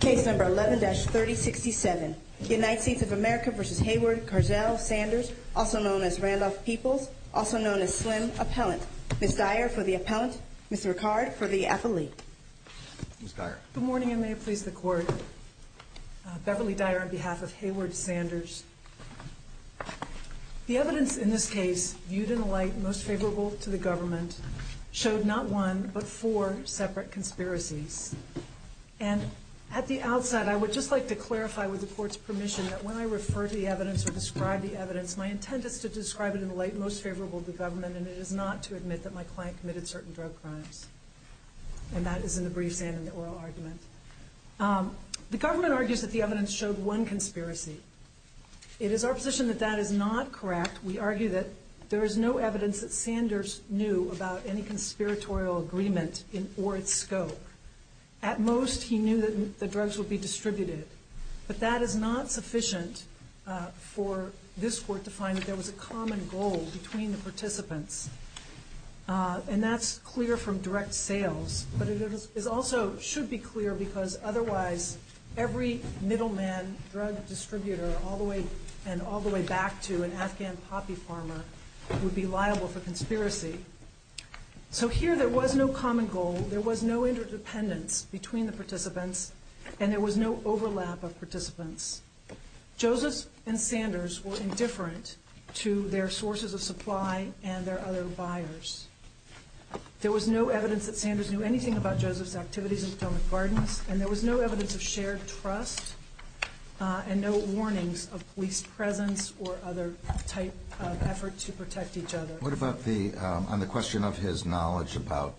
Case number 11-3067. United States of America v. Heyward Carzell Sanders, also known as Randolph Peoples, also known as Slim Appellant. Ms. Dyer for the Appellant, Ms. Ricard for the Affiliate. Good morning and may it please the Court. Beverly Dyer on behalf of Heyward Sanders. The evidence in this case, viewed in the light most favorable to the government, showed not one but four separate conspiracies. And at the outset, I would just like to clarify with the Court's permission that when I refer to the evidence or describe the evidence, my intent is to describe it in the light most favorable to the government and it is not to admit that my client committed certain drug crimes. And that is in the briefs and the oral argument. The government argues that the evidence showed one conspiracy. It is our position that that is not correct. We argue that there is no evidence that Sanders knew about any conspiratorial agreement or its scope. At most, he knew that the drugs would be distributed. But that is not sufficient for this Court to find that there was a common goal between the participants. And that is clear from direct sales. But it also should be clear because otherwise every middleman drug distributor all the way back to an Afghan poppy farmer would be liable for conspiracy. So here there was no common goal, there was no interdependence between the participants, and there was no overlap of participants. Joseph and Sanders were indifferent to their sources of supply and their other buyers. There was no evidence that Sanders knew anything about Joseph's activities in Potomac Gardens, and there was no evidence of shared trust and no warnings of police presence or other type of effort to protect each other. What about the, on the question of his knowledge about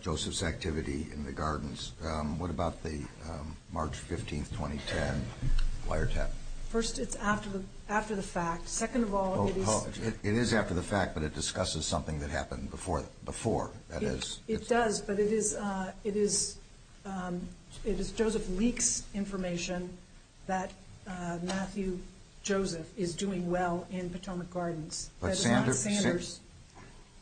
Joseph's activity in the gardens, what about the March 15th, 2010 wiretap? First it's after the fact. Second of all, it is... It is after the fact, but it discusses something that happened before. That is... It does, but it is, it is, it is Joseph Leake's information that Matthew Joseph is doing well in Potomac Gardens. That is not Sanders.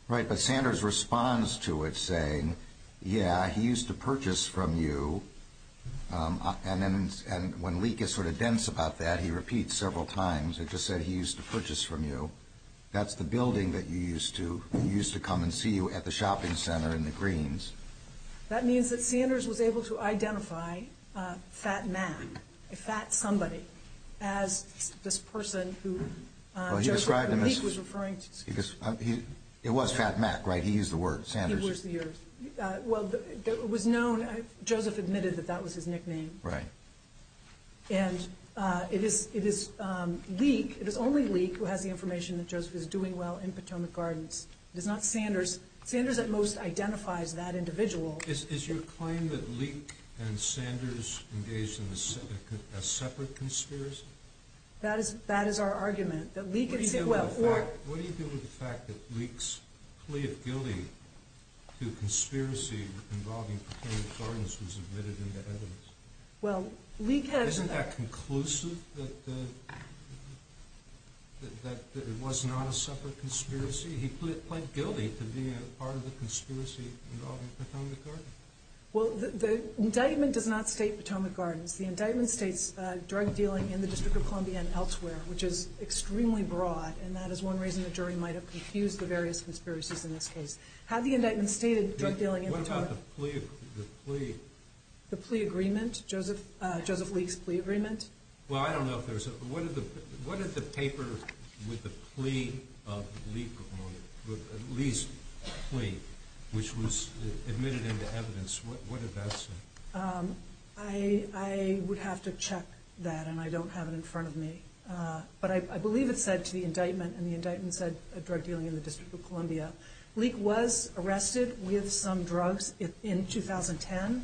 Right, but Sanders responds to it saying, yeah, he used to purchase from you, and then when Leake gets sort of dense about that, he repeats several times, it just said he used to purchase from you. That's the building that you used to, he used to come and see you at the shopping center in the greens. That means that Sanders was able to identify Fat Mac, a fat somebody, as this person who Leake was referring to. It was Fat Mac, right? He used the word, Sanders. He was the... Well, it was known, Joseph admitted that that was his nickname. Right. And it is Leake, it is only Leake who has the information that Joseph is doing well in Potomac Gardens. It is not Sanders. Sanders at most identifies that individual. Is your claim that Leake and Sanders engaged in a separate conspiracy? That is our argument. What do you do with the fact that Leake's plea of guilty to conspiracy involving Potomac Gardens was admitted in the evidence? Well, Leake has... Isn't that conclusive that it was not a separate conspiracy? He pled guilty to being a part of the conspiracy involving Potomac Gardens. Well, the indictment does not state Potomac Gardens. The indictment states drug dealing in the District of Columbia and elsewhere, which is extremely broad, and that is one reason the jury might have confused the various conspiracies in this case. Had the indictment stated drug dealing in Potomac... What about the plea... The plea agreement? Joseph Leake's plea agreement? Well, I don't know if there's... What did the paper with the plea of Leake... Leake's plea, which was admitted into evidence, what did that say? I would have to check that, and I don't have it in front of me. But I believe it said to the indictment, and the indictment said drug dealing in the District of Columbia. Leake was arrested with some drugs in 2010,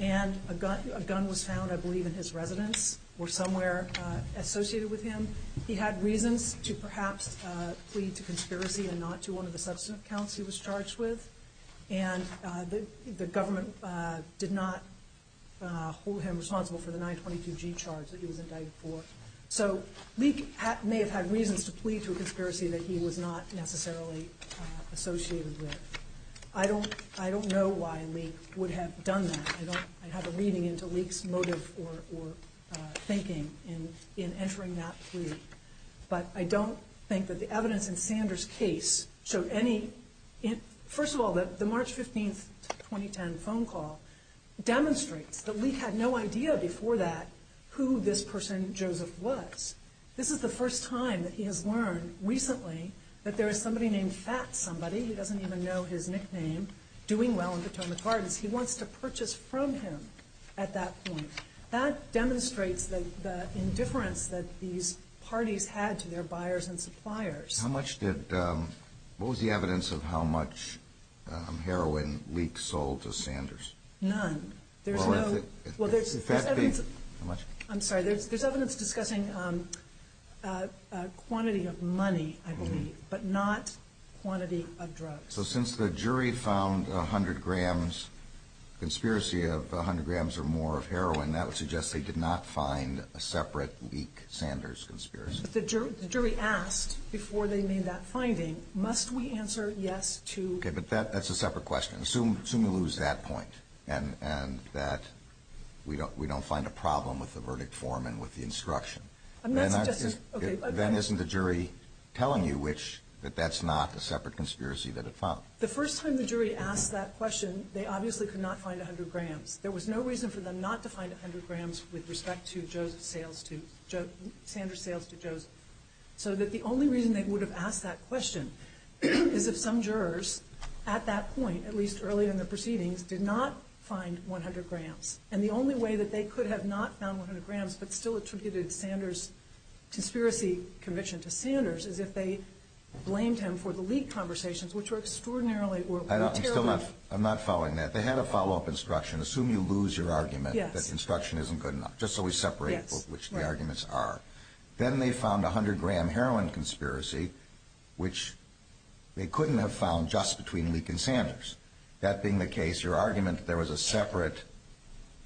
and a gun was found, I believe, in his residence or somewhere associated with him. He had reasons to perhaps plead to conspiracy and not to go into the substance accounts he was charged with, and the government did not hold him responsible for the 922G charge that he was indicted for. So Leake may have had reasons to plead to a conspiracy that he was not necessarily associated with. I don't know why Leake would have done that. I don't... I'd have a reading into Leake's motive or thinking in entering that plea. But I don't think that the evidence in Sanders' case showed any... First of all, the March 15th, 2010 phone call demonstrates that Leake had no idea before that who this person, Joseph, was. This is the first time that he has learned recently that there is somebody named Fat Somebody, who doesn't even know his nickname, doing well in Potomac Gardens. He wants to purchase from him at that point. That demonstrates the indifference that these parties had to their buyers and suppliers. How much did... What was the evidence of how much heroin Leake sold to Sanders? None. There's no... Well, if it... Well, there's evidence... How much? I'm sorry. There's evidence discussing quantity of money, I believe, but not quantity of drugs. So since the jury found 100 grams conspiracy of 100 grams or more of heroin, that would suggest they did not find a separate Leake-Sanders conspiracy. But the jury asked, before they made that finding, must we answer yes to... Okay, but that's a separate question. Assume you lose that point and that we don't find a problem with the verdict form and with the instruction. I'm not suggesting... Okay. Then isn't the jury telling you which... that that's not a separate conspiracy that it found? The first time the jury asked that question, they obviously could not find 100 grams. There was no reason for them not to find 100 grams with respect to Joe's sales to... Joe... Sanders' sales to Joe's. So that the only reason they would have asked that question is if some jurors, at that point, at least early in the proceedings, did not find 100 grams. And the only way that they could have not found 100 grams but still attributed Sanders' conspiracy conviction to Sanders is if they blamed him for the Leake conversations, which were extraordinarily... were terribly... I'm still not... I'm not following that. They had a follow-up instruction. Assume you lose your argument that the instruction isn't good enough. Just so we separate which the arguments are. Then they found a 100-gram heroin conspiracy, which they couldn't have found just between Leake and Sanders. That being the case, your argument that there was a separate...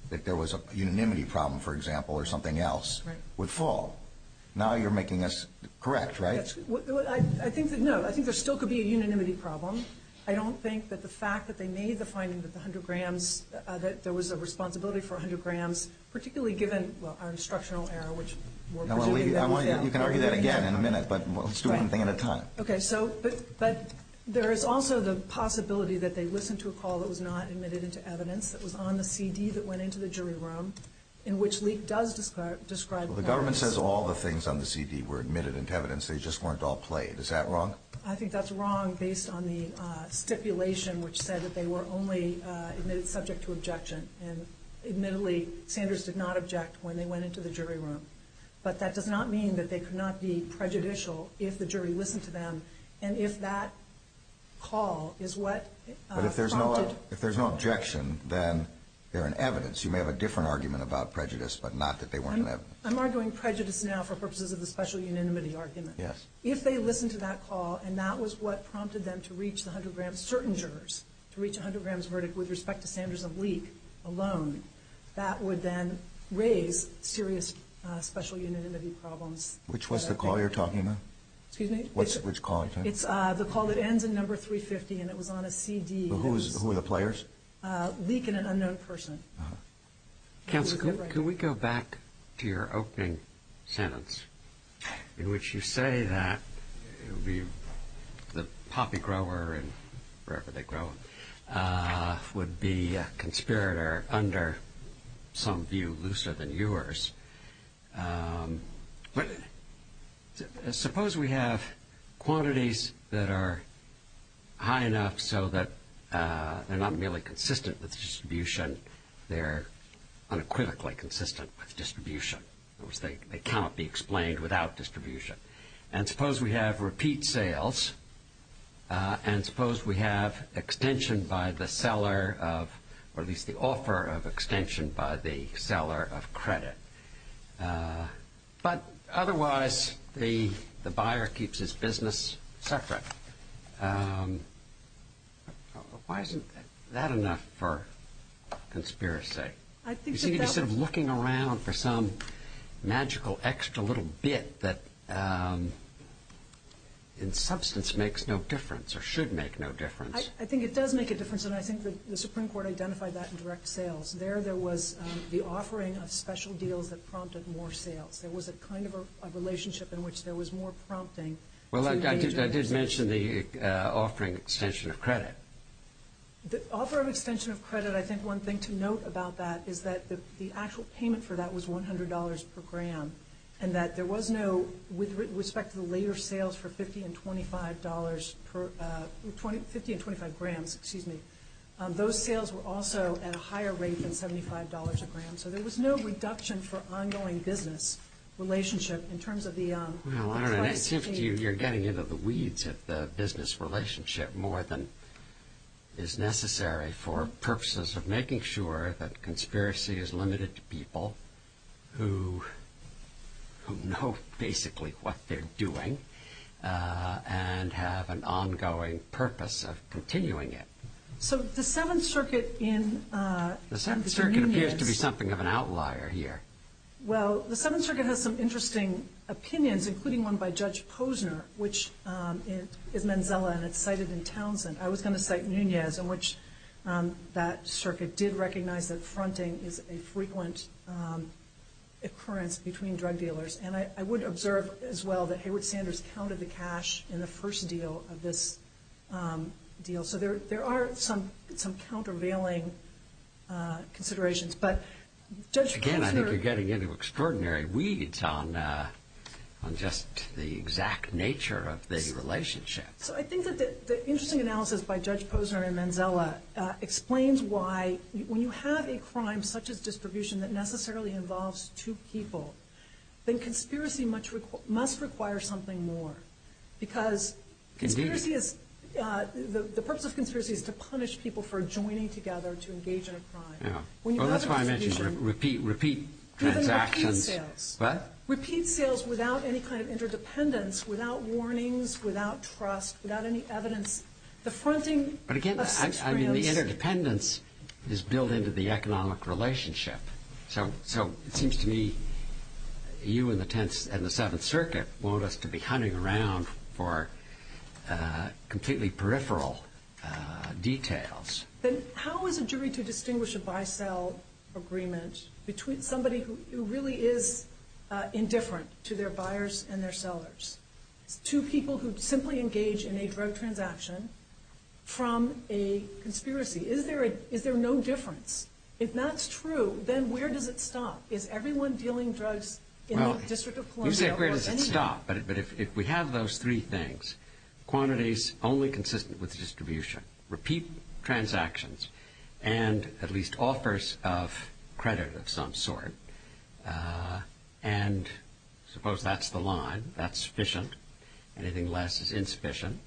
that there was a unanimity problem, for example, or something else... Right. ...would fall. Now you're making us correct, right? I think that, no, I think there still could be a unanimity problem. I don't think that the fact that they made the finding that the 100 grams... that there was a responsibility for 100 grams, particularly given our instructional error, which we're projecting that... You can argue that again in a minute, but let's do one thing at a time. Okay, so... but there is also the possibility that they listened to a call that was not admitted into evidence, that was on the CD that went into the jury room, in which Leake does describe... Well, the government says all the things on the CD were admitted into evidence, they just weren't all played. Is that wrong? I think that's wrong based on the stipulation which said that they were only admitted subject to objection, and admittedly, Sanders did not object when they went into the jury room. But that does not mean that they could not be prejudicial if the jury listened to them, and if that call is what prompted... But if there's no objection, then they're in evidence. You may have a different argument about prejudice, but not that they weren't in evidence. I'm arguing prejudice now for purposes of the special unanimity argument. Yes. If they listened to that call, and that was what prompted them to reach the 100 grams... certain jurors to reach a 100 grams verdict with respect to Sanders and Leake alone, that would then raise serious special unanimity problems. Which was the call you're talking about? Excuse me? Which call? It's the call that ends in number 350, and it was on a CD. Who were the players? Leake and an unknown person. Counsel, can we go back to your opening sentence, in which you say that the poppy grower, and wherever they grow, would be a conspirator under some view looser than yours. But suppose we have quantities that are high enough so that they're not merely consistent with distribution, they're unequivocally consistent with distribution. In other words, they cannot be explained without distribution. And suppose we have repeat sales, and suppose we have extension by the seller of, or at least the offer of extension by the seller of credit. But otherwise, the buyer keeps his business separate. Why isn't that enough for conspiracy? Instead of looking around for some magical extra little bit that in substance makes no difference, or should make no difference. I think it does make a difference, and I think the Supreme Court identified that in direct sales. There, there was the offering of special deals that prompted more sales. There was a kind of a relationship in which there was more prompting. Well, I did mention the offering extension of credit. The offer of extension of credit, I think one thing to note about that, is that the actual payment for that was $100 per gram, and that there was no, with respect to the later sales for $50 and $25 per, $50 and $25 grams, excuse me. Those sales were also at a higher rate than $75 a gram, so there was no reduction for ongoing business relationship in terms of the price. Well, I don't know. It seems to you you're getting into the weeds of the business relationship more than is necessary for purposes of making sure that conspiracy is limited to people who know basically what they're doing and have an ongoing purpose of continuing it. So the Seventh Circuit in the Union is... The Seventh Circuit appears to be something of an outlier here. Well, the Seventh Circuit has some interesting opinions, including one by Judge Posner, which is Menzella, and it's cited in Townsend. I was going to cite Nunez, in which that circuit did recognize that fronting is a frequent occurrence between drug dealers, and I would observe as well that Hayward Sanders counted the cash in the first deal of this deal. So there are some countervailing considerations, but Judge Posner... I think you're getting into extraordinary weeds on just the exact nature of the relationship. So I think that the interesting analysis by Judge Posner and Menzella explains why, when you have a crime such as distribution that necessarily involves two people, then conspiracy must require something more because conspiracy is... The purpose of conspiracy is to punish people for joining together to engage in a crime. Well, that's why I mentioned repeat transactions... Even repeat sales. What? Repeat sales without any kind of interdependence, without warnings, without trust, without any evidence. The fronting... But again, I mean, the interdependence is built into the economic relationship. So it seems to me you and the Seventh Circuit want us to be hunting around for completely peripheral details. Then how is a jury to distinguish a buy-sell agreement between somebody who really is indifferent to their buyers and their sellers to people who simply engage in a drug transaction from a conspiracy? Is there no difference? If that's true, then where does it stop? Is everyone dealing drugs in the District of Columbia or anywhere? You say where does it stop, but if we have those three things, quantities only consistent with distribution, repeat transactions, and at least offers of credit of some sort, and suppose that's the line, that's sufficient, anything less is insufficient,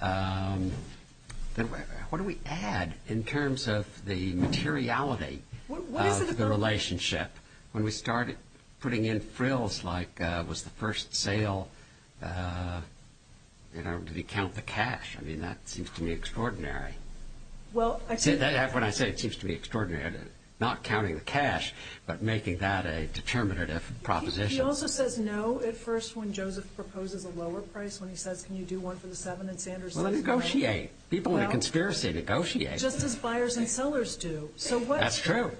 then what do we add in terms of the materiality of the relationship when we started putting in frills like was the first sale, did he count the cash? I mean, that seems to me extraordinary. When I say it seems to me extraordinary, not counting the cash, but making that a determinative proposition. He also says no at first when Joseph proposes a lower price, when he says can you do one for the seven and Sanders says no. Well, negotiate. People in a conspiracy negotiate. Just as buyers and sellers do. That's true.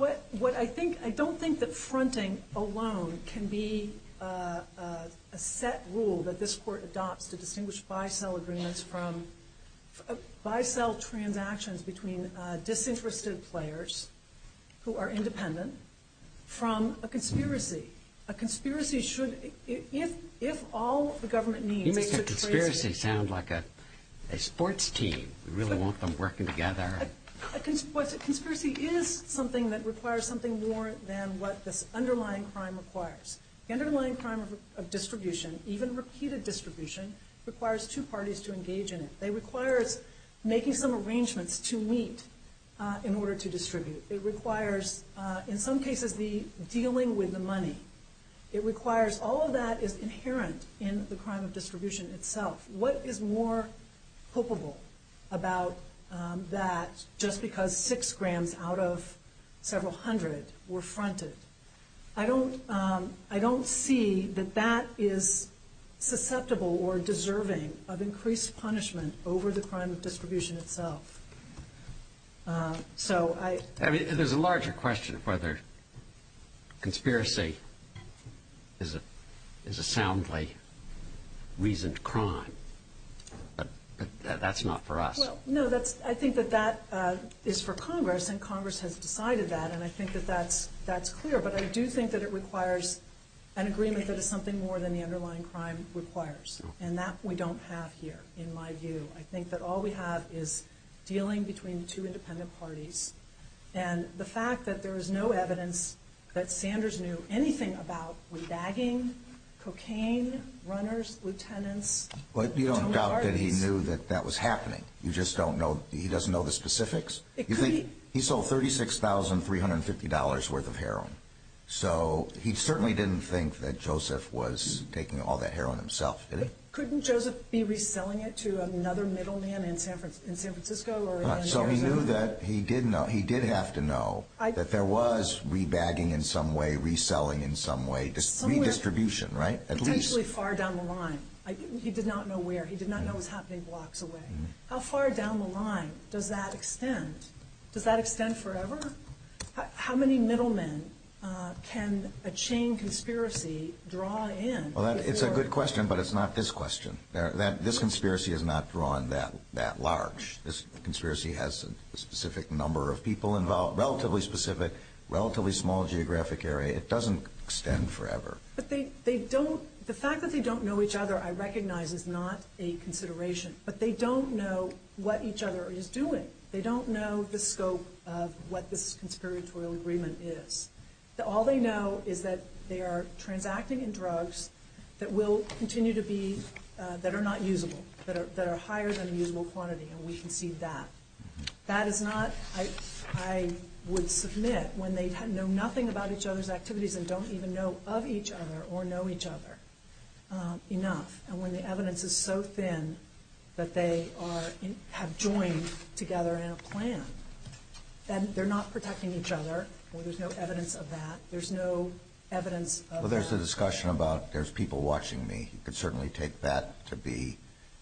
I don't think that fronting alone can be a set rule that this court adopts to distinguish buy-sell agreements from buy-sell transactions between disinterested players who are independent from a conspiracy. A conspiracy should, if all the government needs is to trace it. You make a conspiracy sound like a sports team. You really want them working together. A conspiracy is something that requires something more than what this underlying crime requires. The underlying crime of distribution, even repeated distribution, requires two parties to engage in it. It requires making some arrangements to meet in order to distribute. It requires, in some cases, the dealing with the money. It requires all of that is inherent in the crime of distribution itself. What is more hopeful about that just because six grams out of several hundred were fronted? I don't see that that is susceptible or deserving of increased punishment over the crime of distribution itself. There's a larger question of whether conspiracy is a soundly reasoned crime, but that's not for us. No, I think that that is for Congress, and Congress has decided that, and I think that that's clear. But I do think that it requires an agreement that is something more than the underlying crime requires, and that we don't have here, in my view. I think that all we have is dealing between two independent parties, and the fact that there is no evidence that Sanders knew anything about re-bagging, cocaine, runners, lieutenants. But you don't doubt that he knew that that was happening. You just don't know. He doesn't know the specifics. You think he sold $36,350 worth of heroin, so he certainly didn't think that Joseph was taking all that heroin himself, did he? Couldn't Joseph be reselling it to another middleman in San Francisco? So he knew that he did have to know that there was re-bagging in some way, reselling in some way, redistribution, right? Potentially far down the line. He did not know where. He did not know it was happening blocks away. How far down the line does that extend? Does that extend forever? How many middlemen can a chain conspiracy draw in? Well, it's a good question, but it's not this question. This conspiracy is not drawn that large. This conspiracy has a specific number of people involved, relatively specific, relatively small geographic area. It doesn't extend forever. But the fact that they don't know each other, I recognize, is not a consideration. But they don't know what each other is doing. They don't know the scope of what this conspiratorial agreement is. All they know is that they are transacting in drugs that will continue to be, that are not usable, that are higher than a usable quantity, and we can see that. That is not, I would submit, when they know nothing about each other's activities and don't even know of each other or know each other enough, and when the evidence is so thin that they have joined together in a plan, then they're not protecting each other, or there's no evidence of that. There's no evidence of that. Well, there's the discussion about there's people watching me. You could certainly take that to be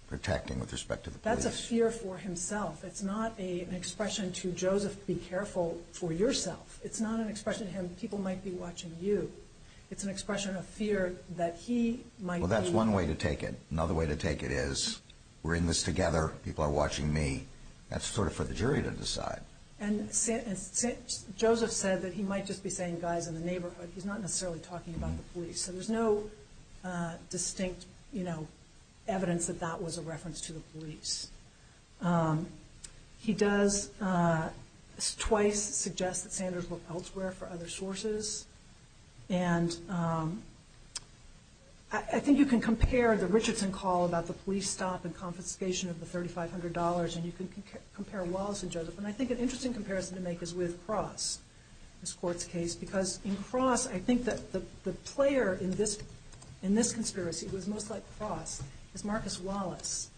protecting with respect to the police. That's a fear for himself. It's not an expression to Joseph, be careful for yourself. It's not an expression to him, people might be watching you. It's an expression of fear that he might be... Well, that's one way to take it. Another way to take it is, we're in this together, people are watching me. That's sort of for the jury to decide. And Joseph said that he might just be saying guys in the neighborhood. He's not necessarily talking about the police. So there's no distinct evidence that that was a reference to the police. He does twice suggest that Sanders look elsewhere for other sources, and I think you can compare the Richardson call about the police stop and confiscation of the $3,500, and you can compare Wallace and Joseph. And I think an interesting comparison to make is with Cross, this court's case, because in Cross, I think that the player in this conspiracy, who is most like Cross, is Marcus Wallace.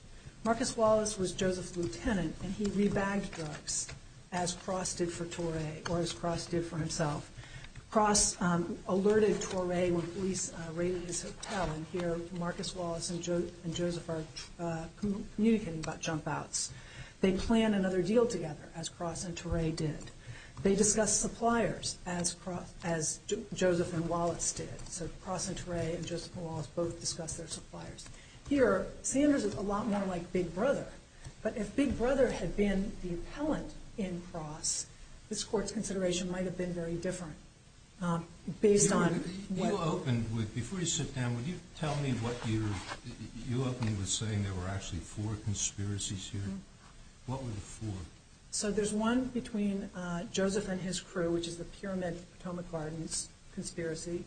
Marcus Wallace was Joseph's lieutenant, and he re-bagged drugs, as Cross did for Toray, or as Cross did for himself. Cross alerted Toray when police raided his hotel, and here Marcus Wallace and Joseph are communicating about jump-outs. They plan another deal together, as Cross and Toray did. They discussed suppliers, as Joseph and Wallace did. So Cross and Toray and Joseph and Wallace both discussed their suppliers. Here, Sanders is a lot more like Big Brother, but if Big Brother had been the appellant in Cross, this court's consideration might have been very different. You opened with, before you sit down, you opened with saying there were actually four conspiracies here. What were the four? So there's one between Joseph and his crew, which is the Pyramid of Potomac Gardens conspiracy.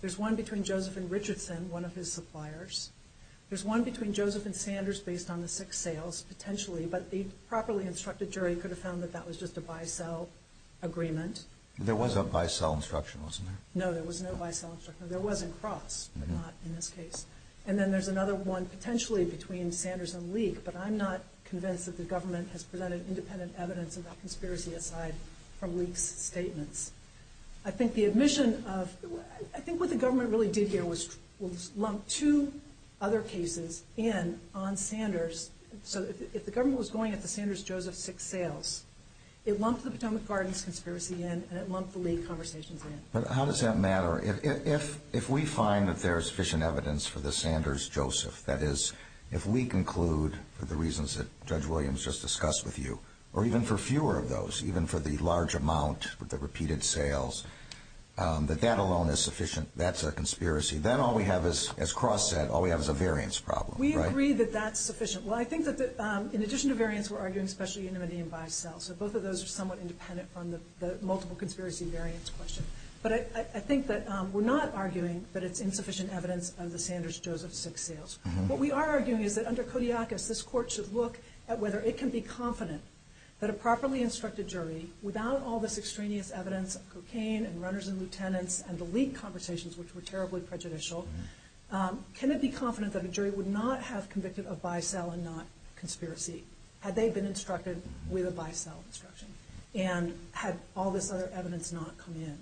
There's one between Joseph and Richardson, one of his suppliers. There's one between Joseph and Sanders based on the six sales, potentially, but the properly instructed jury could have found that that was just a buy-sell agreement. There was a buy-sell instruction, wasn't there? No, there was no buy-sell instruction. There was in Cross, but not in this case. And then there's another one potentially between Sanders and Leek, but I'm not convinced that the government has presented independent evidence about conspiracy aside from Leek's statements. I think the admission of, I think what the government really did here was lump two other cases in on Sanders. So if the government was going at the Sanders-Joseph six sales, it lumped the Potomac Gardens conspiracy in and it lumped the Leek conversations in. But how does that matter? If we find that there is sufficient evidence for the Sanders-Joseph, that is if we conclude for the reasons that Judge Williams just discussed with you, or even for fewer of those, even for the large amount, the repeated sales, that that alone is sufficient, that's a conspiracy, then all we have is, as Cross said, all we have is a variance problem, right? We agree that that's sufficient. Well, I think that in addition to variance, we're arguing especially unanimity in bi-cell. So both of those are somewhat independent from the multiple conspiracy variance question. But I think that we're not arguing that it's insufficient evidence of the Sanders-Joseph six sales. What we are arguing is that under Kodiakos, this court should look at whether it can be confident that a properly instructed jury, without all this extraneous evidence of cocaine and runners and lieutenants and the Leek conversations, which were terribly prejudicial, can it be confident that a jury would not have convicted of bi-cell and not conspiracy had they been instructed with a bi-cell instruction and had all this other evidence not come in?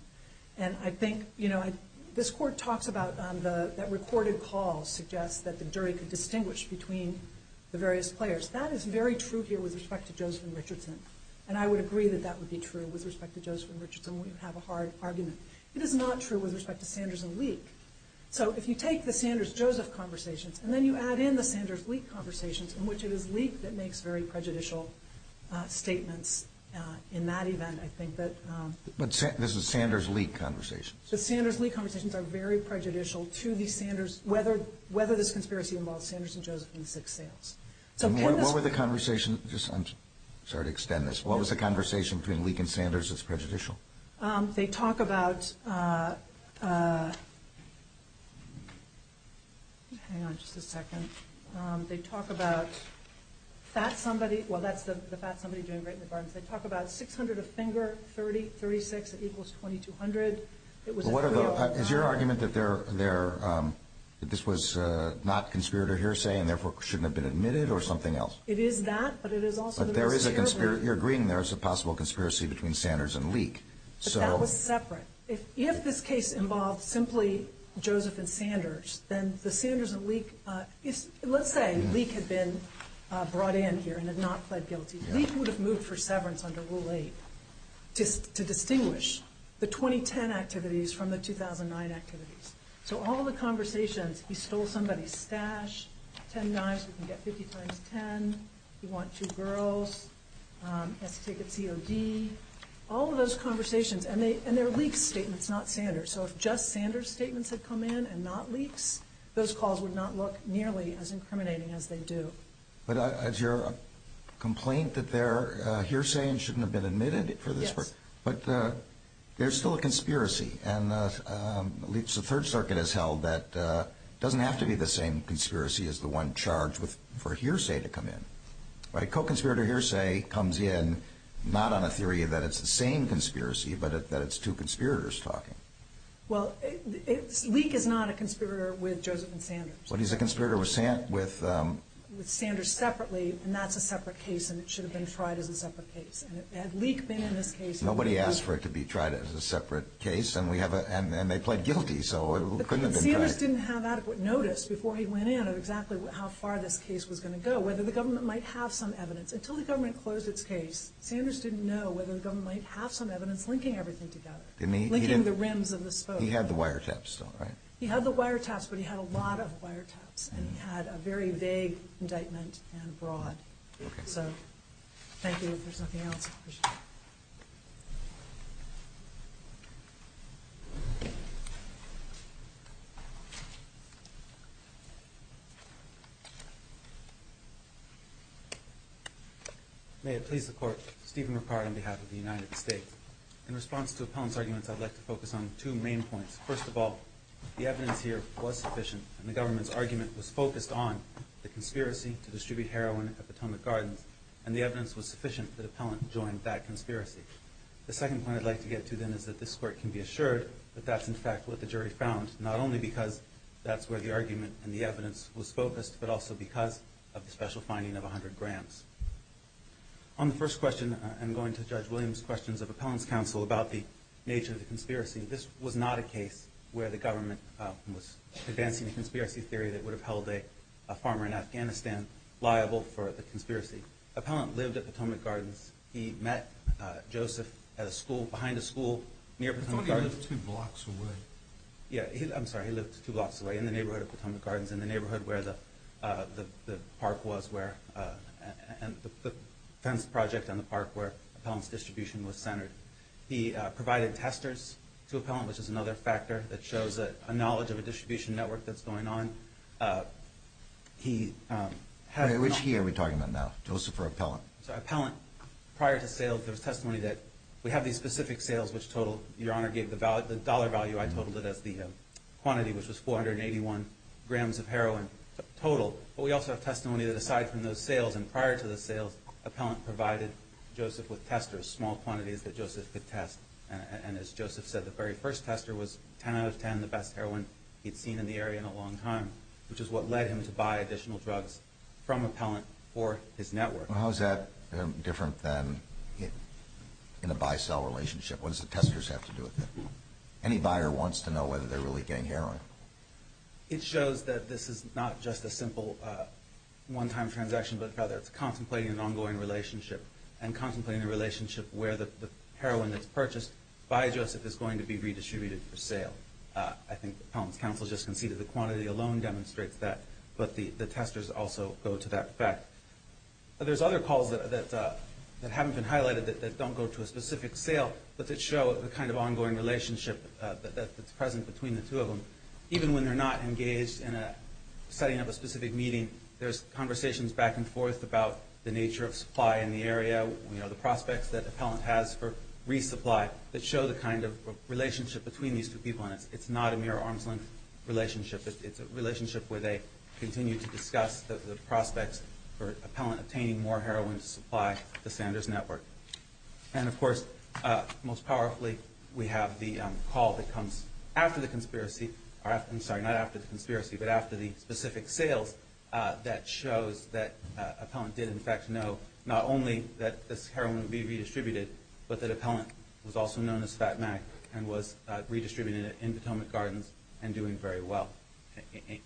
And I think, you know, this court talks about that recorded call suggests that the jury could distinguish between the various players. That is very true here with respect to Joseph and Richardson, and I would agree that that would be true with respect to Joseph and Richardson when you have a hard argument. It is not true with respect to Sanders and Leek. So if you take the Sanders-Joseph conversations and then you add in the Sanders-Leek conversations, in which it is Leek that makes very prejudicial statements in that event, I think that... But this is Sanders-Leek conversations. The Sanders-Leek conversations are very prejudicial to the Sanders, whether this conspiracy involves Sanders and Joseph in the six sales. So can this... What were the conversations, just, I'm sorry to extend this, what was the conversation between Leek and Sanders that's prejudicial? They talk about... Hang on just a second. They talk about that somebody... Well, that's the fat somebody doing great in the gardens. They talk about 600 a finger, 36 equals 2200. Is your argument that this was not conspirator hearsay and therefore shouldn't have been admitted or something else? It is that, but it is also... You're agreeing there is a possible conspiracy between Sanders and Leek. But that was separate. If this case involved simply Joseph and Sanders, then the Sanders and Leek... Let's say Leek had been brought in here and had not pled guilty. Leek would have moved for severance under Rule 8 to distinguish the 2010 activities from the 2009 activities. So all the conversations, he stole somebody's stash, 10 knives, we can get 50 times 10, we want two girls, has to take a COD, all of those conversations, and they're Leek's statements, not Sanders'. So if just Sanders' statements had come in and not Leek's, those calls would not look nearly as incriminating as they do. But is your complaint that they're hearsay and shouldn't have been admitted for this work? Yes. But there's still a conspiracy, and at least the Third Circuit has held that it doesn't have to be the same conspiracy as the one charged for hearsay to come in. A co-conspirator hearsay comes in not on a theory that it's the same conspiracy, but that it's two conspirators talking. Well, Leek is not a conspirator with Joseph and Sanders. But he's a conspirator with Sanders separately, and that's a separate case, and it should have been tried as a separate case. Had Leek been in this case... Nobody asked for it to be tried as a separate case, and they pled guilty, so it couldn't have been tried. But Sanders didn't have adequate notice before he went in of exactly how far this case was going to go, whether the government might have some evidence. Until the government closed its case, Sanders didn't know whether the government might have some evidence linking everything together, linking the rims of the spokes. He had the wiretaps, though, right? He had the wiretaps, but he had a lot of wiretaps, and he had a very vague indictment and broad. Okay. So thank you. If there's nothing else, I appreciate it. May it please the Court. Stephen Ricard on behalf of the United States. In response to Appellant's arguments, I'd like to focus on two main points. First of all, the evidence here was sufficient, and the government's argument was focused on the conspiracy to distribute heroin at Potomac Gardens, and the evidence was sufficient that Appellant joined that conspiracy. The second point I'd like to get to, then, And the second point I'd like to get to is that this Court can be assured not only because that's where the argument and the evidence was focused, but also because of the special finding of 100 grams. On the first question, I'm going to judge Williams' questions of Appellant's counsel about the nature of the conspiracy. This was not a case where the government was advancing a conspiracy theory that would have held a farmer in Afghanistan liable for the conspiracy. Appellant lived at Potomac Gardens. He met Joseph at a school, behind a school, near Potomac Gardens. Yeah, I'm sorry, he lived two blocks away, in the neighborhood of Potomac Gardens, in the neighborhood where the park was, and the fence project on the park where Appellant's distribution was centered. He provided testers to Appellant, which is another factor that shows a knowledge of a distribution network that's going on. Which he are we talking about now, Joseph or Appellant? Appellant, prior to sales, there was testimony that we have these specific sales which total, Your Honor gave the dollar value, I totaled it as the quantity, which was 481 grams of heroin total. But we also have testimony that aside from those sales, and prior to the sales, Appellant provided Joseph with testers, small quantities that Joseph could test. And as Joseph said, the very first tester was 10 out of 10 the best heroin he'd seen in the area in a long time, which is what led him to buy additional drugs from Appellant for his network. How is that different than in a buy-sell relationship? What does the testers have to do with it? Any buyer wants to know whether they're really getting heroin? It shows that this is not just a simple one-time transaction, but rather it's contemplating an ongoing relationship and contemplating the relationship where the heroin that's purchased by Joseph is going to be redistributed for sale. I think Appellant's counsel just conceded the quantity alone demonstrates that, There's other calls that haven't been highlighted that don't go to a specific sale, but that show the kind of ongoing relationship that's present between the two of them. Even when they're not engaged in setting up a specific meeting, there's conversations back and forth about the nature of supply in the area, the prospects that Appellant has for resupply, that show the kind of relationship between these two people, and it's not a mere arm's-length relationship. It's a relationship where they continue to discuss the prospects for Appellant obtaining more heroin to supply the Sanders Network. And of course, most powerfully, we have the call that comes after the conspiracy, I'm sorry, not after the conspiracy, but after the specific sales, that shows that Appellant did in fact know not only that this heroin would be redistributed, but that Appellant was also known as Fat Mac and was redistributing it in Potomac Gardens and doing very well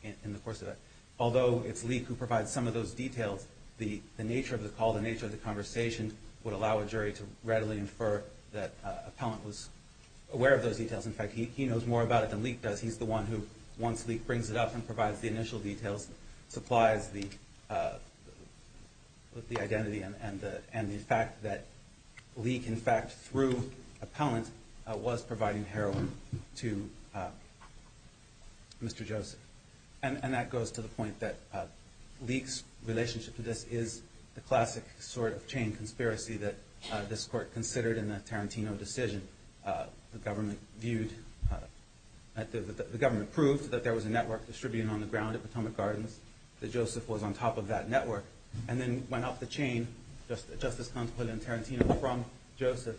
in the course of that. Although it's Lee who provides some of those details, the nature of the call, the nature of the conversation would allow a jury to readily infer that Appellant was aware of those details. In fact, he knows more about it than Lee does. He's the one who, once Lee brings it up and provides the initial details, supplies the identity and the fact that Lee, in fact, through Appellant, was providing heroin to Mr. Joseph. And that goes to the point that Lee's relationship to this is the classic sort of chain conspiracy that this court considered in the Tarantino decision. The government viewed, the government proved that there was a network distributed on the ground at Potomac Gardens, that Joseph was on top of that network, and then went off the chain, just as contemplated in Tarantino, from Joseph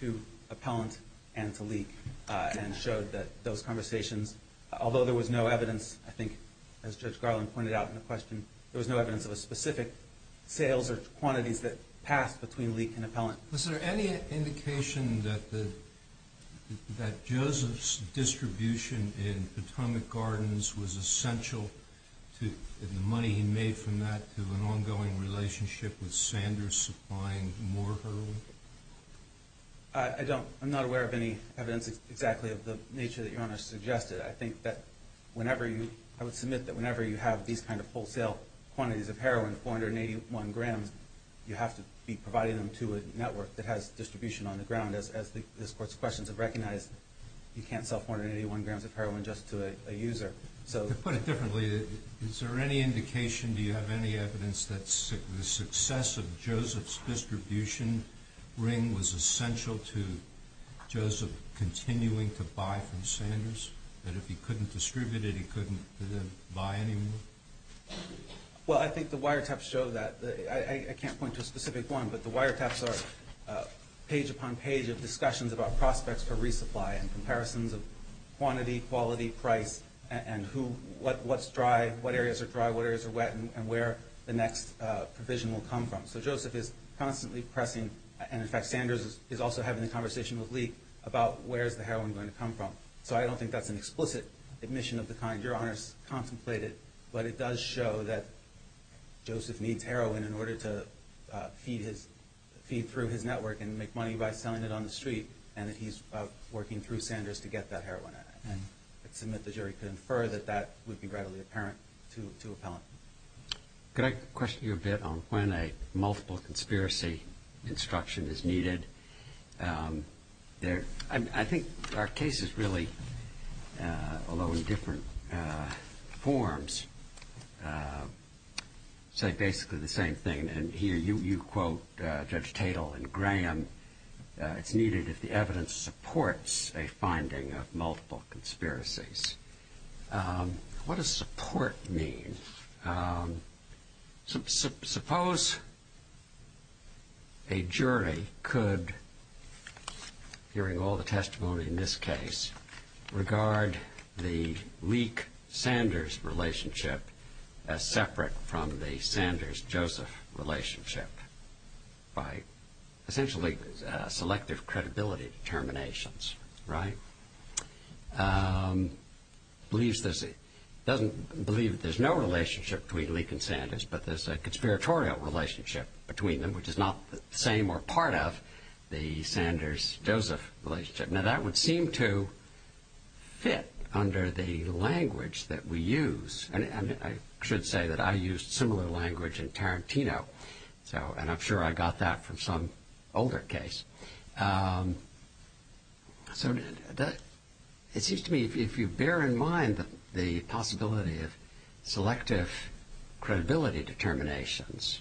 to Appellant and to Lee, and showed that those conversations, although there was no evidence, I think, as Judge Garland pointed out in the question, there was no evidence of a specific sales or quantities that passed between Lee and Appellant. Was there any indication that Joseph's distribution in Potomac Gardens was essential to the money he made from that to an ongoing relationship with Sanders supplying more heroin? I'm not aware of any evidence exactly of the nature that Your Honor suggested. I think that whenever you, I would submit that whenever you have these kind of wholesale quantities of heroin, 481 grams, you have to be providing them to a network that has distribution on the ground. As this Court's questions have recognized, you can't sell 481 grams of heroin just to a user. To put it differently, is there any indication, do you have any evidence, that the success of Joseph's distribution ring was essential to Joseph continuing to buy from Sanders? That if he couldn't distribute it, he couldn't buy anymore? Well, I think the wiretaps show that. I can't point to a specific one, but the wiretaps are page upon page of discussions about prospects for resupply and comparisons of quantity, quality, price, and what's dry, what areas are dry, what areas are wet, and where the next provision will come from. So Joseph is constantly pressing, and in fact Sanders is also having a conversation with Lee, about where's the heroin going to come from. So I don't think that's an explicit admission of the kind Your Honor's contemplated, but it does show that Joseph needs heroin in order to feed through his network and make money by selling it on the street, and that he's working through Sanders to get that heroin. I'd submit the jury could infer that that would be readily apparent to appellant. Could I question you a bit on when a multiple conspiracy instruction is needed? I think our cases really, although in different forms, say basically the same thing, and here you quote Judge Tatel and Graham, it's needed if the evidence supports a finding of multiple conspiracies. What does support mean? Suppose a jury could hearing all the testimony in this case, regard the Lee-Sanders relationship as separate from the Sanders-Joseph relationship by essentially selective credibility determinations, right? Believes there's no relationship between Lee and Sanders, but there's a conspiratorial relationship between them, which is not the same or part of the Sanders-Joseph relationship. Now that would seem to fit under the language that we use, and I should say that I used similar language in Tarantino, and I'm sure I got that from some older case. It seems to me if you bear in mind the possibility of selective credibility determinations,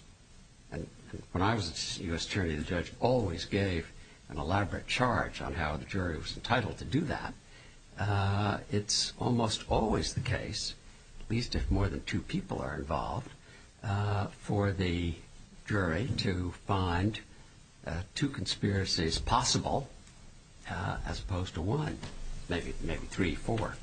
and when I was a U.S. jury, the judge always gave an elaborate charge on how the jury was entitled to do that, it's almost always the case, at least if more than two people are involved, for the jury to find two conspiracies possible as opposed to one, maybe three, four.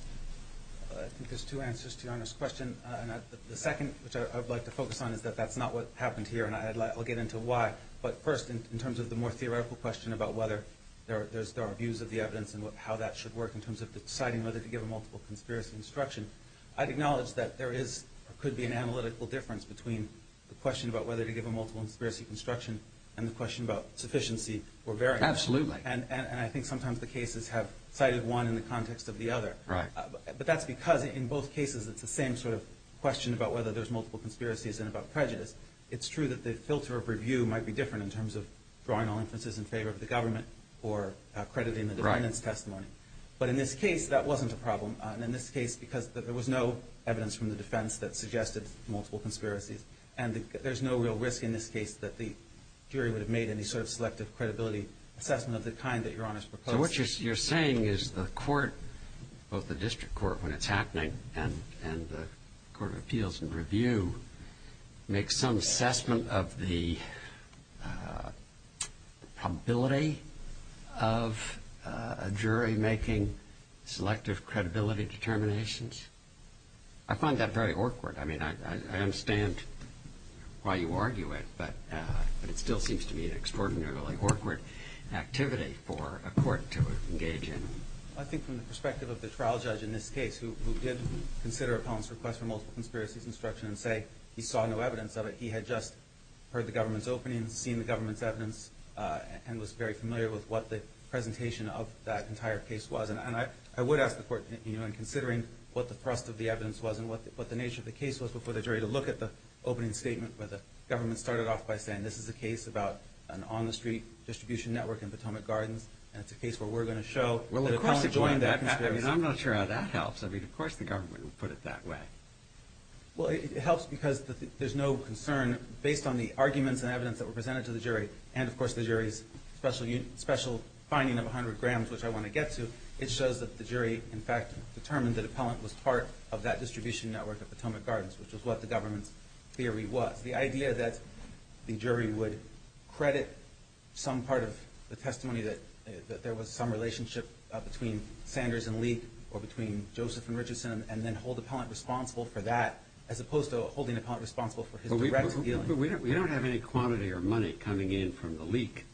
I think there's two answers to your honest question, and the second, which I'd like to focus on, is that that's not what happened here, and I'll get into why. But first, in terms of the more theoretical question about whether there are views of the evidence and how that should work in terms of deciding whether to give a multiple conspiracy instruction, I'd acknowledge that there could be an analytical difference between the question about whether to give a multiple conspiracy instruction and the question about sufficiency or variance. Absolutely. And I think sometimes the cases have cited one in the context of the other. But that's because in both cases it's the same sort of question about whether there's multiple conspiracies and about prejudice. It's true that the filter of review might be different in terms of drawing all inferences in favor of the government or crediting the defendant's testimony. But in this case, that wasn't a problem. And in this case, because there was no evidence from the defense that suggested multiple conspiracies, and there's no real risk in this case that the jury would have made any sort of selective credibility assessment of the kind that Your Honor's proposing. So what you're saying is the court, both the district court when it's happening and the court of appeals and review, makes some assessment of the probability of a jury making selective credibility determinations? I find that very awkward. I mean, I understand why you argue it, but it still seems to me an extraordinarily awkward activity for a court to engage in. I think from the perspective of the trial judge in this case who did consider a felon's request for multiple conspiracies instruction and say he saw no evidence of it, he had just heard the government's opening, seen the government's evidence, and was very familiar with what the presentation of that entire case was. And I would ask the court, you know, in considering what the thrust of the evidence was and what the nature of the case was before the jury to look at the opening statement where the government started off by saying this is a case about an on-the-street distribution network in Potomac Gardens, and it's a case where we're going to show that a felon joined that conspiracy. I mean, I'm not sure how that helps. I mean, of course the government would put it that way. Well, it helps because there's no concern based on the arguments and evidence that were presented to the jury and, of course, the jury's special finding of 100 grams, which I want to get to. It shows that the jury in fact determined that a felon was part of that distribution network at Potomac Gardens, which is what the government's theory was. The idea that the jury would credit some part of the testimony that there was some relationship between Sanders and Leak or between Joseph and Richardson and then hold the pellant responsible for that as opposed to holding the pellant responsible for his direct dealing. But we don't have any quantity or money coming in from the Leak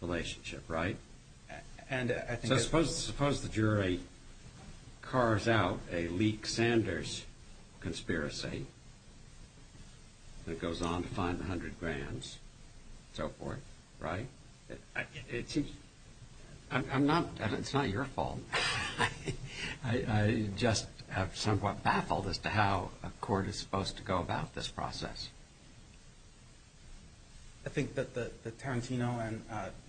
relationship, right? And I think... So suppose the jury cars out a Leak-Sanders conspiracy that goes on to find the 100 grams and so forth, right? I'm not... It's not your fault. I just am somewhat baffled as to how a court is supposed to go about this process. I think that Tarantino and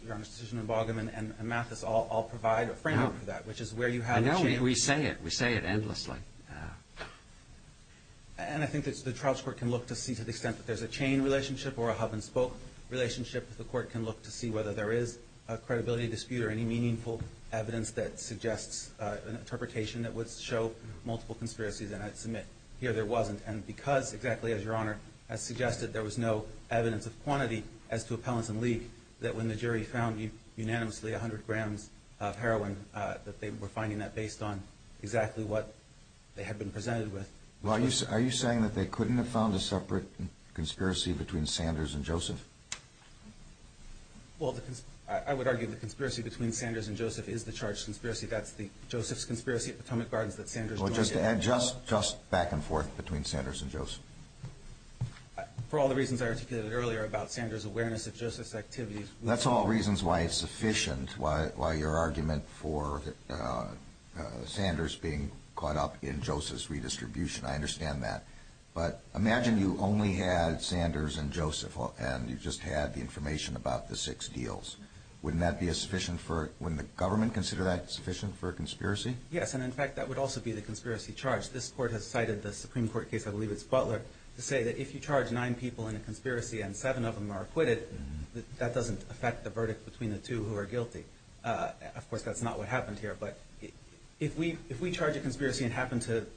Your Honor's decision in Bogom and Mathis all provide a framework for that, which is where you have... I know. We say it. We say it endlessly. And I think the trials court can look to see to the extent that there's a chain relationship or a hub-and-spoke relationship, the court can look to see whether there is a credibility dispute or any meaningful evidence that suggests an interpretation that would show multiple conspiracies. And I'd submit here there wasn't. And because, exactly as Your Honor has suggested, there was no evidence of quantity as to a pellant in Leak, that when the jury found unanimously 100 grams of heroin, that they were finding that based on exactly what they had been presented with. Are you saying that they couldn't have found a separate conspiracy between Sanders and Joseph? Well, I would argue the conspiracy between Sanders and Joseph is the charged conspiracy. That's the Joseph's conspiracy at Potomac Gardens that Sanders joined... Well, just to add, just back and forth between Sanders and Joseph. For all the reasons I articulated earlier about Sanders' awareness of Joseph's activities... That's all reasons why it's sufficient, why your argument for Sanders I understand that. But imagine you only had Sanders and Joseph and you just had the information about the six deals. Wouldn't that be sufficient for... Wouldn't the government consider that sufficient for a conspiracy? Yes, and in fact, that would also be the conspiracy charge. This Court has cited the Supreme Court case, I believe it's Butler, to say that if you charge nine people in a conspiracy and seven of them are acquitted, that doesn't affect the verdict between the two who are guilty. Of course, that's not what happened here. But if we charge a conspiracy and happen to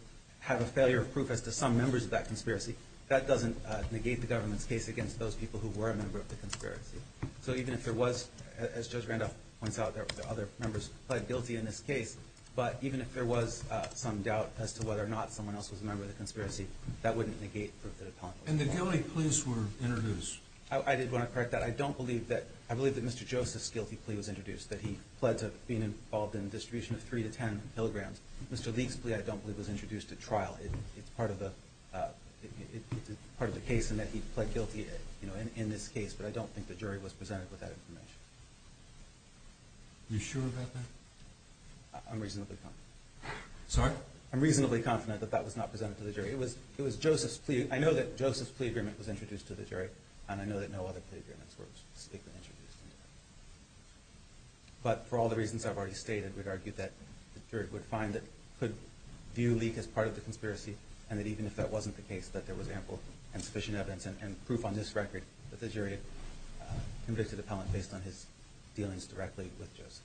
have a failure of proof as to some members of that conspiracy, that doesn't negate the government's case against those people who were a member of the conspiracy. So even if there was... As Judge Randolph points out, there were other members who pled guilty in this case, but even if there was some doubt as to whether or not someone else was a member of the conspiracy, that wouldn't negate proof that a telling was made. And the guilty pleas were introduced. I did want to correct that. I don't believe that... I believe that Mr. Joseph's guilty plea was introduced, that he pled to being involved in the distribution of 3 to 10 milligrams. Mr. Leake's plea, I don't believe, was introduced at trial. It's part of the... It's part of the case in that he pled guilty in this case, but I don't think the jury was presented with that information. You sure about that? I'm reasonably confident. Sorry? I'm reasonably confident that that was not presented to the jury. It was Joseph's plea... I know that Joseph's plea agreement was introduced to the jury, and I know that no other plea agreements were specifically introduced. But for all the reasons I've already stated, we'd argue that the jury would find that it could view Leake as part of the conspiracy, and that even if that wasn't the case, that there was ample and sufficient evidence and proof on this record that the jury had convicted the appellant based on his dealings directly with Joseph.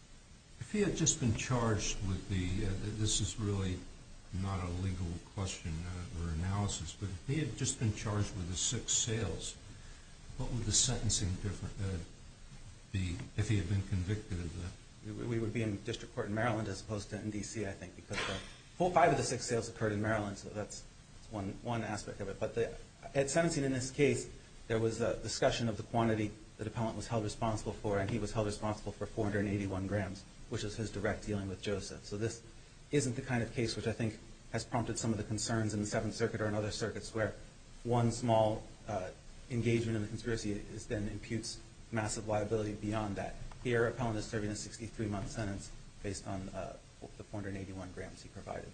If he had just been charged with the... This is really not a legal question or analysis, but if he had just been charged with the six sales, what would the sentencing be if he had been convicted of that? We would be in district court in Maryland as opposed to in D.C., I think, because a full five of the six sales occurred in Maryland, so that's one aspect of it. But at sentencing in this case, there was a discussion of the quantity that the appellant was held responsible for, and he was held responsible for 481 grams, which is his direct dealing with Joseph. So this isn't the kind of case which I think has prompted some of the concerns in the Seventh Circuit or in other circuits where one small engagement in the conspiracy then imputes massive liability beyond that. Here, the appellant is serving a 63-month sentence based on the 481 grams he provided.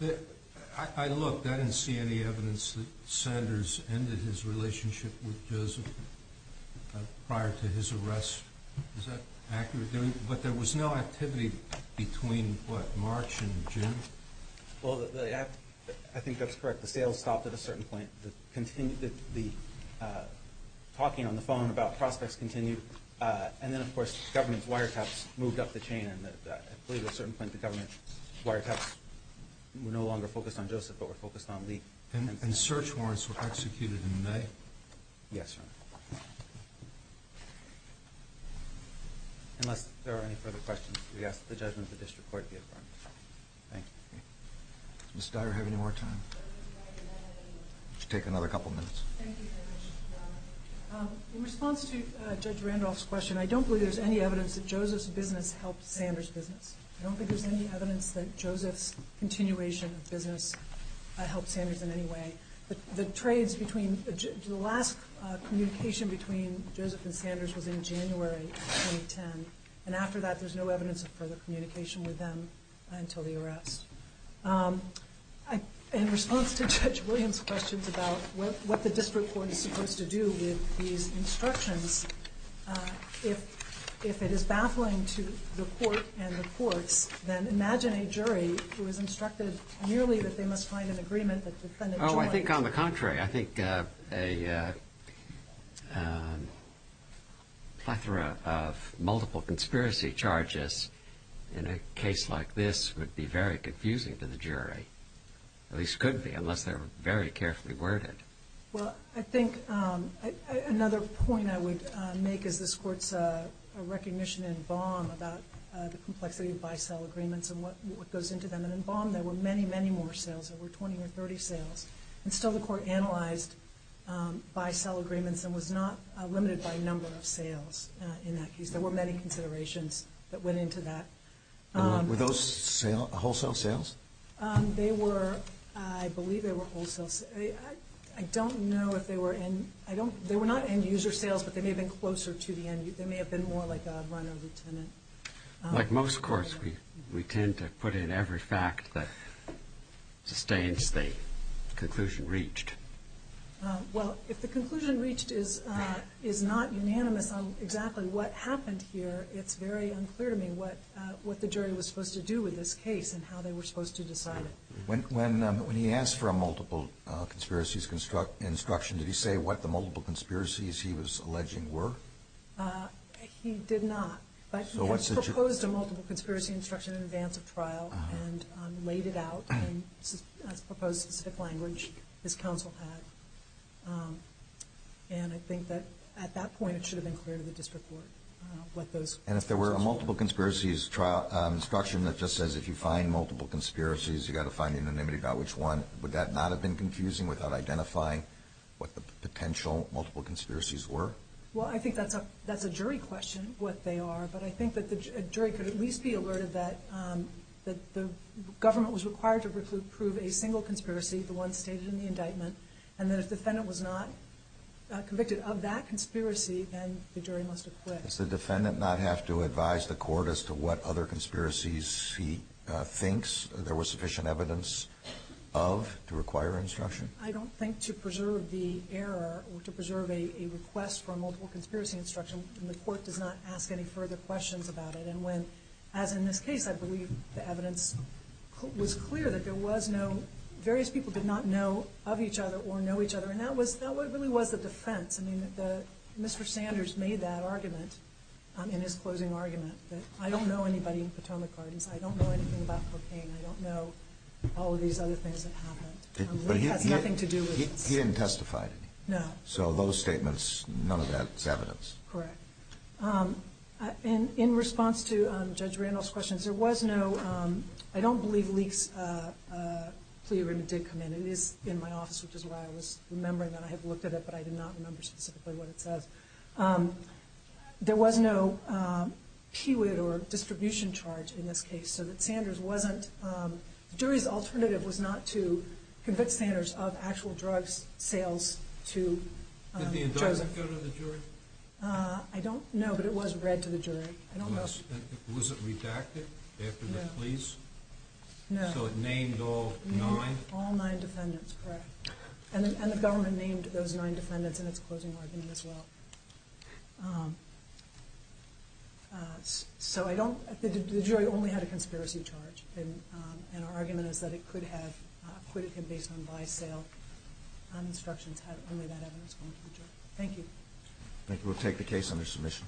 I looked. I didn't see any evidence that Sanders ended his relationship with Joseph prior to his arrest. Is that accurate? But there was no activity between, what, March and June? Well, I think that's correct. The sales stopped at a certain point. The talking on the phone about prospects continued, and then, of course, government's wiretaps moved up the chain and, I believe, at a certain point, the government wiretaps were no longer focused on Joseph but were focused on Lee. And search warrants were executed in May? Yes, Your Honor. Unless there are any further questions, we ask that the judgment of the district court be affirmed. Thank you. Does Ms. Dyer have any more time? Would you take another couple minutes? Thank you very much, Your Honor. In response to Judge Randolph's question, I don't believe there's any evidence that Joseph's business helped Sanders' business. I don't think there's any evidence that Joseph's continuation of business helped Sanders in any way. The trades between... The last communication between Joseph and Sanders was in January 2010, and after that, there's no evidence of further communication with them until the arrest. In response to Judge Williams' questions about what the district court is supposed to do with these instructions, if it is baffling to the court and the courts, then imagine a jury who is instructed merely that they must find an agreement that the defendant joins... Oh, I think on the contrary. I think a plethora of multiple conspiracy charges in a case like this would be very confusing to the jury. At least could be, unless they're very carefully worded. Well, I think another point I would make is this court's recognition in Baum about the complexity of buy-sell agreements and what goes into them. And in Baum, there were many, many more sales. There were 20 or 30 sales. And still the court analyzed buy-sell agreements and was not limited by number of sales in that case. There were many considerations that went into that. Were those wholesale sales? They were... I believe they were wholesale... I don't know if they were... They were not end-user sales, but they may have been closer to the end... They may have been more like a run of the tenant. Like most courts, we tend to put in every fact that sustains the conclusion reached. Well, if the conclusion reached is not unanimous on exactly what happened here, it's very unclear to me what the jury was supposed to do with this case and how they were supposed to decide it. When he asked for a multiple conspiracies instruction, did he say what the multiple conspiracies he was alleging were? He did not. But he had proposed a multiple conspiracy instruction in advance of trial and laid it out in a proposed specific language his counsel had. And I think that at that point it should have been clear to the district court what those instructions were. And if there were a multiple conspiracies instruction that just says if you find multiple conspiracies, you've got to find unanimity about which one, would that not have been confusing without identifying what the potential multiple conspiracies were? Well, I think that's a jury question, what they are. But I think that the jury could at least be alerted that the government was required to approve a single conspiracy, the one stated in the indictment, and that if the defendant was not convicted of that conspiracy, then the jury must acquit. Does the defendant not have to advise the court as to what other conspiracies he thinks there was sufficient evidence of to require instruction? I don't think to preserve the error or to preserve a request for a multiple conspiracy instruction, the court does not ask any further questions about it. And when, as in this case, I believe the evidence was clear that there was no, various people did not know of each other or know each other, and that really was the defense. I mean, Mr. Sanders made that argument in his closing argument, that I don't know anybody in Potomac Gardens, I don't know anything about cocaine, I don't know all of these other things that happened. It has nothing to do with this. He didn't testify to any. No. So those statements, none of that is evidence. Correct. In response to Judge Randall's questions, there was no, I don't believe Leek's plea agreement did come in. It is in my office, which is why I was remembering that I had looked at it, but I did not remember specifically what it says. There was no PWID or distribution charge in this case, so that Sanders wasn't, the jury's alternative was not to convict Sanders of actual drug sales to Joseph. Did the indictment go to the jury? I don't know, but it was read to the jury. Was it redacted after the pleas? No. So it named all nine? All nine defendants, correct. And the government named those nine defendants in its closing argument as well. So I don't, the jury only had a conspiracy charge, and our argument is that it could have acquitted him based on buy-sale instructions, had only that evidence gone to the jury. Thank you. Thank you. We'll take the case under submission.